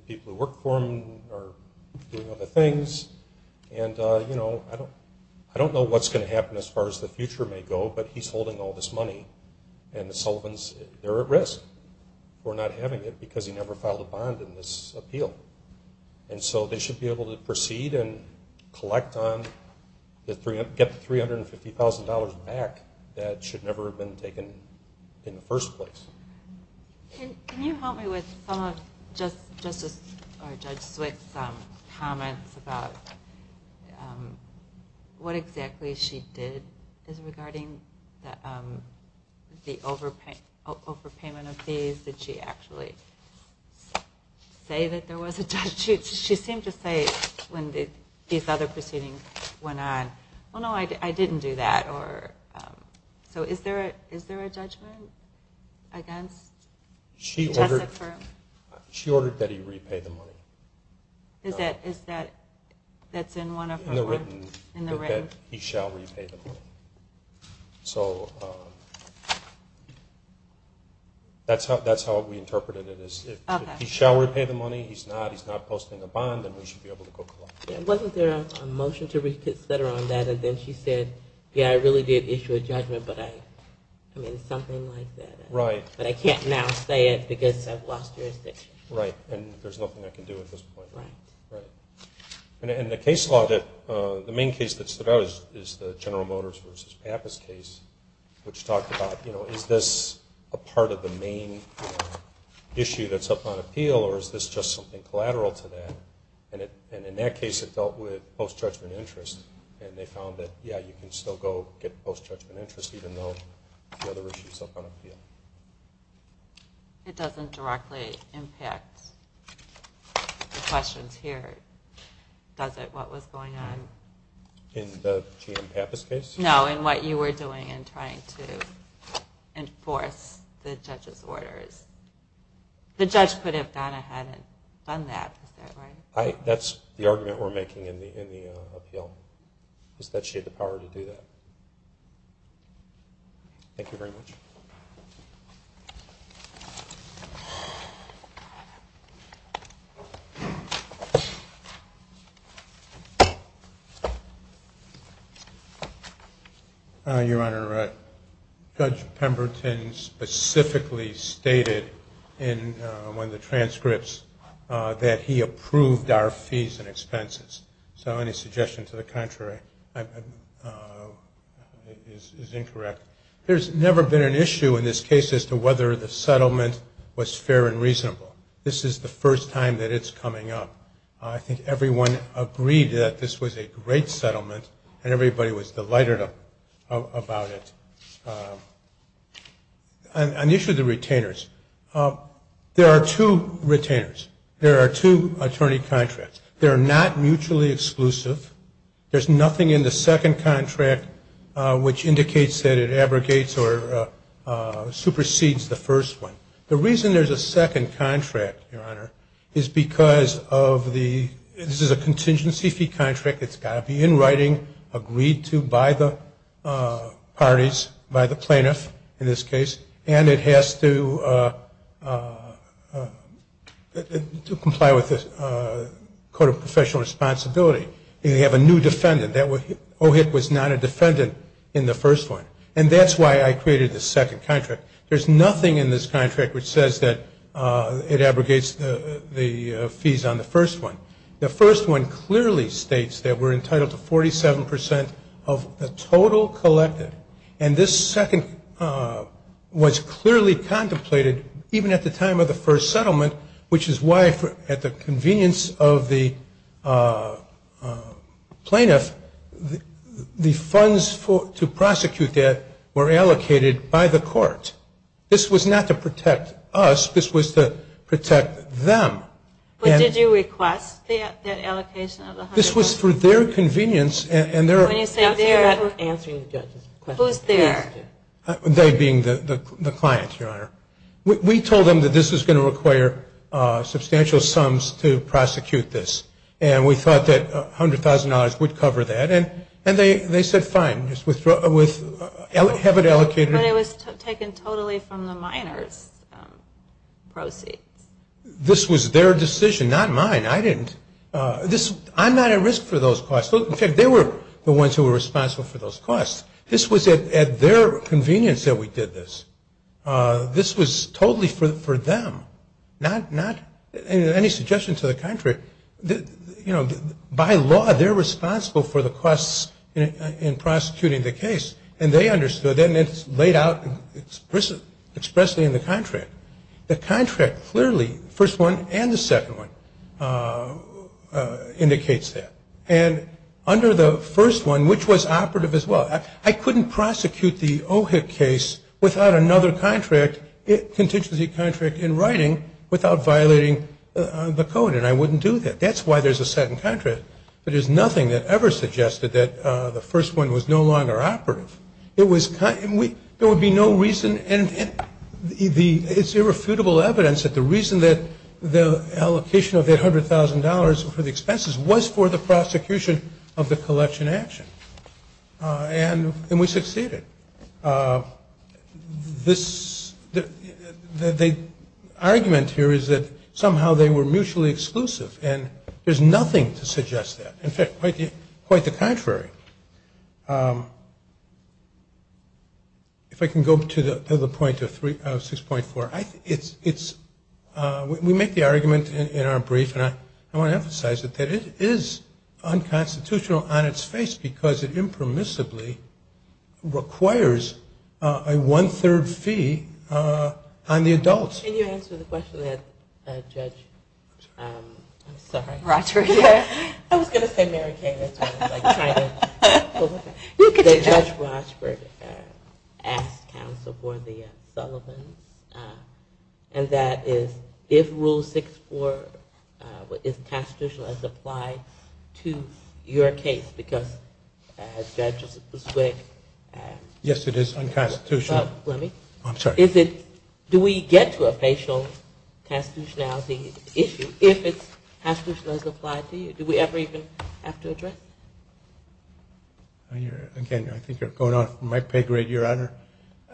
people who work for him are doing other things. And I don't know what's going to happen as far as the future may go, but he's holding all this money, and the Sullivans, they're at risk for not having it because he never filed a bond in this appeal. And so they should be able to proceed and get the $350,000 back that should never have been taken in the first place. Can you help me with some of Judge Swick's comments about what exactly she did regarding the overpayment of fees? Did she actually say that there was a judgment? She seemed to say when these other proceedings went on, well, no, I didn't do that. So is there a judgment against Cheswick Firm? She ordered that he repay the money. Is that in one of her words? He shall repay the money. So that's how we interpreted it. If he shall repay the money, he's not, he's not posting a bond, then we should be able to go collect it. Wasn't there a motion to reconsider on that? And then she said, yeah, I really did issue a judgment, but I mean, something like that. Right. But I can't now say it because I've lost jurisdiction. Right, and there's nothing I can do at this point. Right. And the case law that, the main case that stood out is the General Motors versus Pappas case, which talked about, you know, is this a part of the main issue that's up on appeal, or is this just something collateral to that? And in that case, it dealt with post-judgment interest, and they found that, yeah, you can still go get post-judgment interest, even though the other issue is up on appeal. It doesn't directly impact the questions here, does it, what was going on? In the GM Pappas case? No, in what you were doing in trying to enforce the judge's orders. The judge could have gone ahead and done that, is that right? That's the argument we're making in the appeal, is that she had the power to do that. Thank you very much. Your Honor, Judge Pemberton specifically stated in one of the transcripts that he approved our fees and expenses. So any suggestion to the contrary is incorrect. There's never been an issue in this case as to whether the settlement was fair and reasonable. This is the first time that it's coming up. I think everyone agreed that this was a great settlement, and everybody was delighted about it. On the issue of the retainers, there are two retainers. There are two attorney contracts. They're not mutually exclusive. There's nothing in the second contract which indicates that it abrogates or supersedes the first one. The reason there's a second contract, Your Honor, is because of the – this is a contingency fee contract. It's got to be in writing, agreed to by the parties, by the plaintiff in this case, and it has to comply with the Code of Professional Responsibility. They have a new defendant. Ohit was not a defendant in the first one, and that's why I created the second contract. There's nothing in this contract which says that it abrogates the fees on the first one. The first one clearly states that we're entitled to 47 percent of the total collected, and this second was clearly contemplated even at the time of the first settlement, which is why at the convenience of the plaintiff, the funds to prosecute that were allocated by the court. This was not to protect us. This was to protect them. But did you request that allocation of the hundred? This was for their convenience, and their – Who's their? They being the clients, Your Honor. We told them that this was going to require substantial sums to prosecute this, and we thought that $100,000 would cover that, and they said fine, just have it allocated. But it was taken totally from the miners' proceeds. This was their decision, not mine. I didn't – I'm not at risk for those costs. In fact, they were the ones who were responsible for those costs. This was at their convenience that we did this. This was totally for them, not – any suggestion to the contrary. You know, by law, they're responsible for the costs in prosecuting the case, and they understood that, and it's laid out expressly in the contract. The contract clearly, the first one and the second one, indicates that. And under the first one, which was operative as well, I couldn't prosecute the Ohik case without another contract, contingency contract in writing, without violating the code, and I wouldn't do that. That's why there's a second contract. But there's nothing that ever suggested that the first one was no longer operative. It was – there would be no reason – and it's irrefutable evidence that the reason that the allocation of that $100,000 for the expenses was for the prosecution of the collection action. And we succeeded. This – the argument here is that somehow they were mutually exclusive, and there's nothing to suggest that. In fact, quite the contrary. If I can go to the point of 6.4. We make the argument in our brief, and I want to emphasize it, that it is unconstitutional on its face because it impermissibly requires a one-third fee on the adults. Can you answer the question that Judge – I'm sorry. Rochford. I was going to say Mary Kay. That Judge Rochford asked counsel for the Sullivans, and that is if Rule 6.4 is constitutional as applied to your case because Judge Buswick – Yes, it is unconstitutional. Let me – I'm sorry. Is it – do we get to a facial constitutionality issue if it's constitutional as applied to you? Do we ever even have to address it? Again, I think you're going off my pay grade, Your Honor.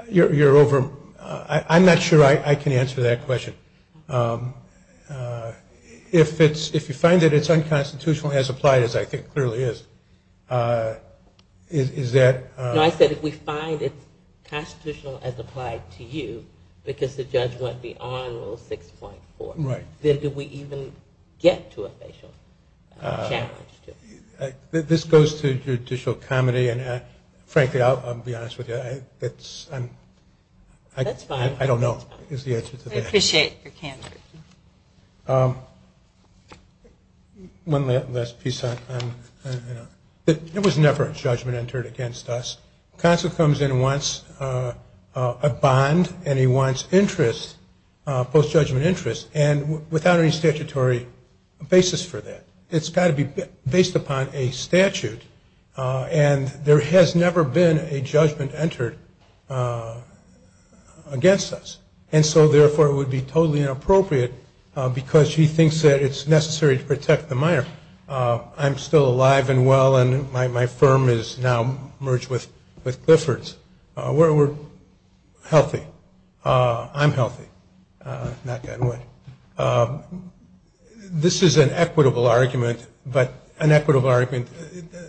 You're over – I'm not sure I can answer that question. If it's – if you find that it's unconstitutional as applied, as I think clearly is, is that – No, I said if we find it's constitutional as applied to you because the judge went beyond Rule 6.4, then do we even get to a facial challenge to it? This goes to judicial comedy, and frankly, I'll be honest with you, it's – That's fine. I don't know is the answer to that. I appreciate your candor. One last piece on – it was never a judgment entered against us. Counsel comes in and wants a bond, and he wants interest, post-judgment interest, and without any statutory basis for that. It's got to be based upon a statute, and there has never been a judgment entered against us. And so, therefore, it would be totally inappropriate because she thinks that it's necessary to protect the minor. I'm still alive and well, and my firm is now merged with Clifford's. We're healthy. I'm healthy. Knock that away. This is an equitable argument, but an equitable argument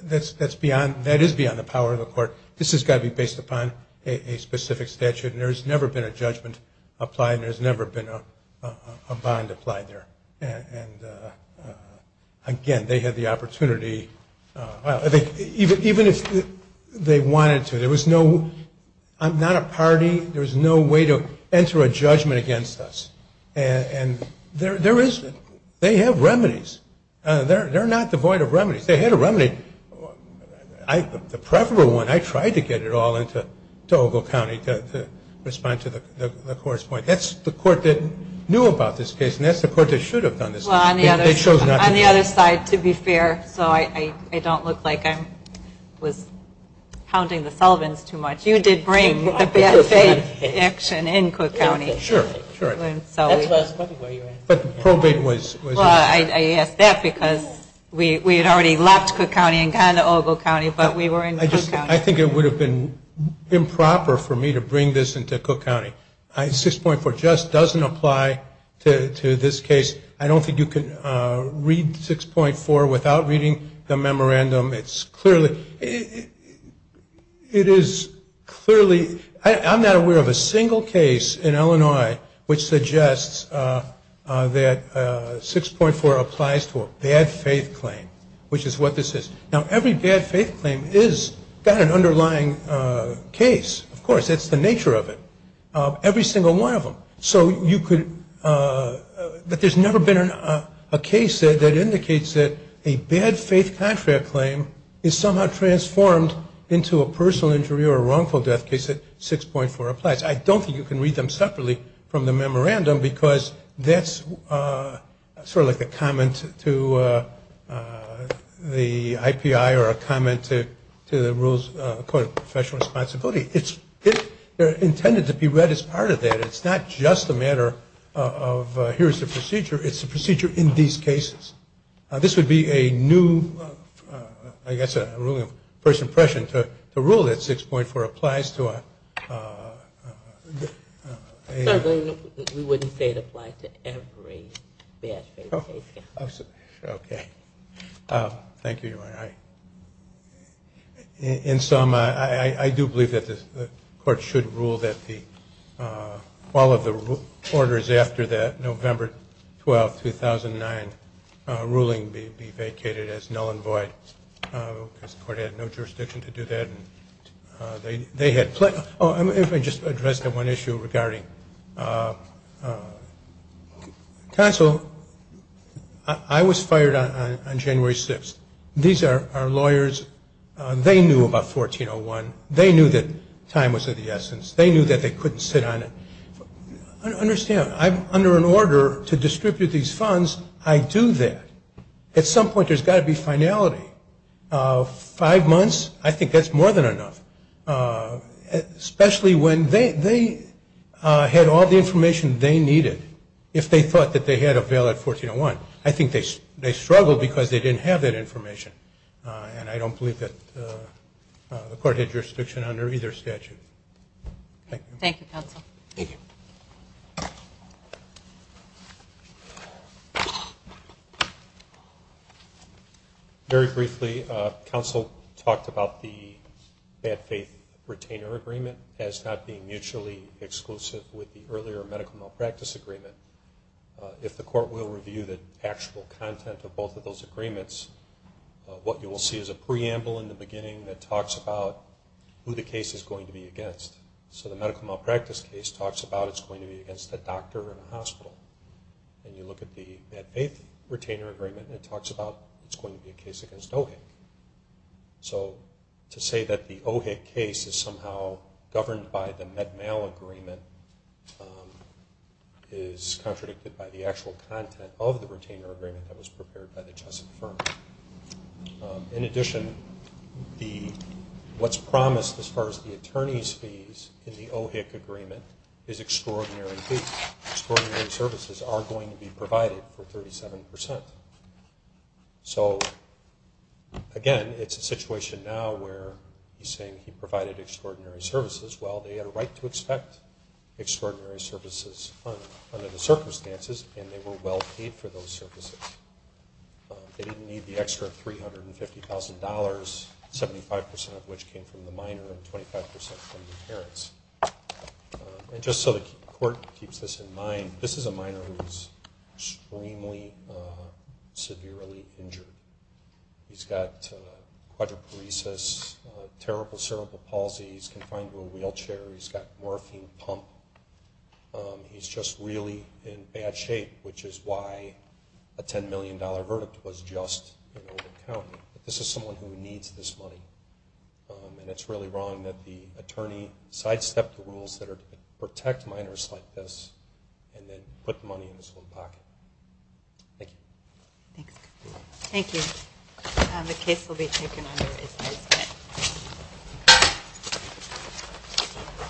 that's beyond – that is beyond the power of the court. This has got to be based upon a specific statute, and there has never been a judgment applied, and there has never been a bond applied there. And, again, they had the opportunity – even if they wanted to, there was no – I'm not a party. There was no way to enter a judgment against us, and there is – they have remedies. They're not devoid of remedies. They had a remedy. The preferable one, I tried to get it all into Ogle County to respond to the court's point. That's the court that knew about this case, and that's the court that should have done this. They chose not to. On the other side, to be fair, so I don't look like I was pounding the solvents too much, you did bring the bad faith action in Cook County. Sure, sure. But the probate was – I asked that because we had already left Cook County and gone to Ogle County, but we were in Cook County. I think it would have been improper for me to bring this into Cook County. 6.4 just doesn't apply to this case. I don't think you can read 6.4 without reading the memorandum. It's clearly – it is clearly – I'm not aware of a single case in Illinois which suggests that 6.4 applies to a bad faith claim, which is what this is. Now, every bad faith claim has got an underlying case, of course. That's the nature of it. Every single one of them. So you could – but there's never been a case that indicates that a bad faith contract claim is somehow transformed into a personal injury or a wrongful death case that 6.4 applies. I don't think you can read them separately from the memorandum because that's sort of like a comment to the IPI or a comment to the Rules of Professional Responsibility. It's intended to be read as part of that. It's not just a matter of here's the procedure. It's the procedure in these cases. This would be a new – I guess a ruling of first impression to rule that 6.4 applies to a – We wouldn't say it applies to every bad faith case. Thank you, Your Honor. In sum, I do believe that the court should rule that all of the orders after that November 12, 2009, ruling be vacated as null and void because the court had no jurisdiction to do that. They had – oh, let me just address one issue regarding counsel. I was fired on January 6th. These are lawyers. They knew about 1401. They knew that time was of the essence. They knew that they couldn't sit on it. Understand, under an order to distribute these funds, I do that. At some point, there's got to be finality. Five months, I think that's more than enough, especially when they had all the information they needed if they thought that they had a valid 1401. I think they struggled because they didn't have that information, and I don't believe that the court had jurisdiction under either statute. Thank you. Thank you, counsel. Thank you. Very briefly, counsel talked about the bad faith retainer agreement as not being mutually exclusive with the earlier medical malpractice agreement. If the court will review the actual content of both of those agreements, what you will see is a preamble in the beginning that talks about who the case is going to be against. So the medical malpractice case talks about it's going to be against a doctor in a hospital. When you look at the bad faith retainer agreement, it talks about it's going to be a case against OHIC. So to say that the OHIC case is somehow governed by the Med-Mal agreement is contradicted by the actual content of the retainer agreement that was prepared by the Chessett firm. In addition, what's promised as far as the attorney's fees in the OHIC agreement is extraordinary fees. Extraordinary services are going to be provided for 37%. So, again, it's a situation now where he's saying he provided extraordinary services. Well, they had a right to expect extraordinary services under the circumstances and they were well paid for those services. They didn't need the extra $350,000, 75% of which came from the minor and 25% from the parents. And just so the court keeps this in mind, this is a minor who is extremely severely injured. He's got quadriparesis, terrible cerebral palsy. He's confined to a wheelchair. He's got morphine pump. He's just really in bad shape, which is why a $10 million verdict was just in order to count. This is someone who needs this money. And it's really wrong that the attorney sidestepped the rules that are to protect minors like this and then put the money in his own pocket. Thank you. Thanks. Thank you. The case will be taken under this next bit.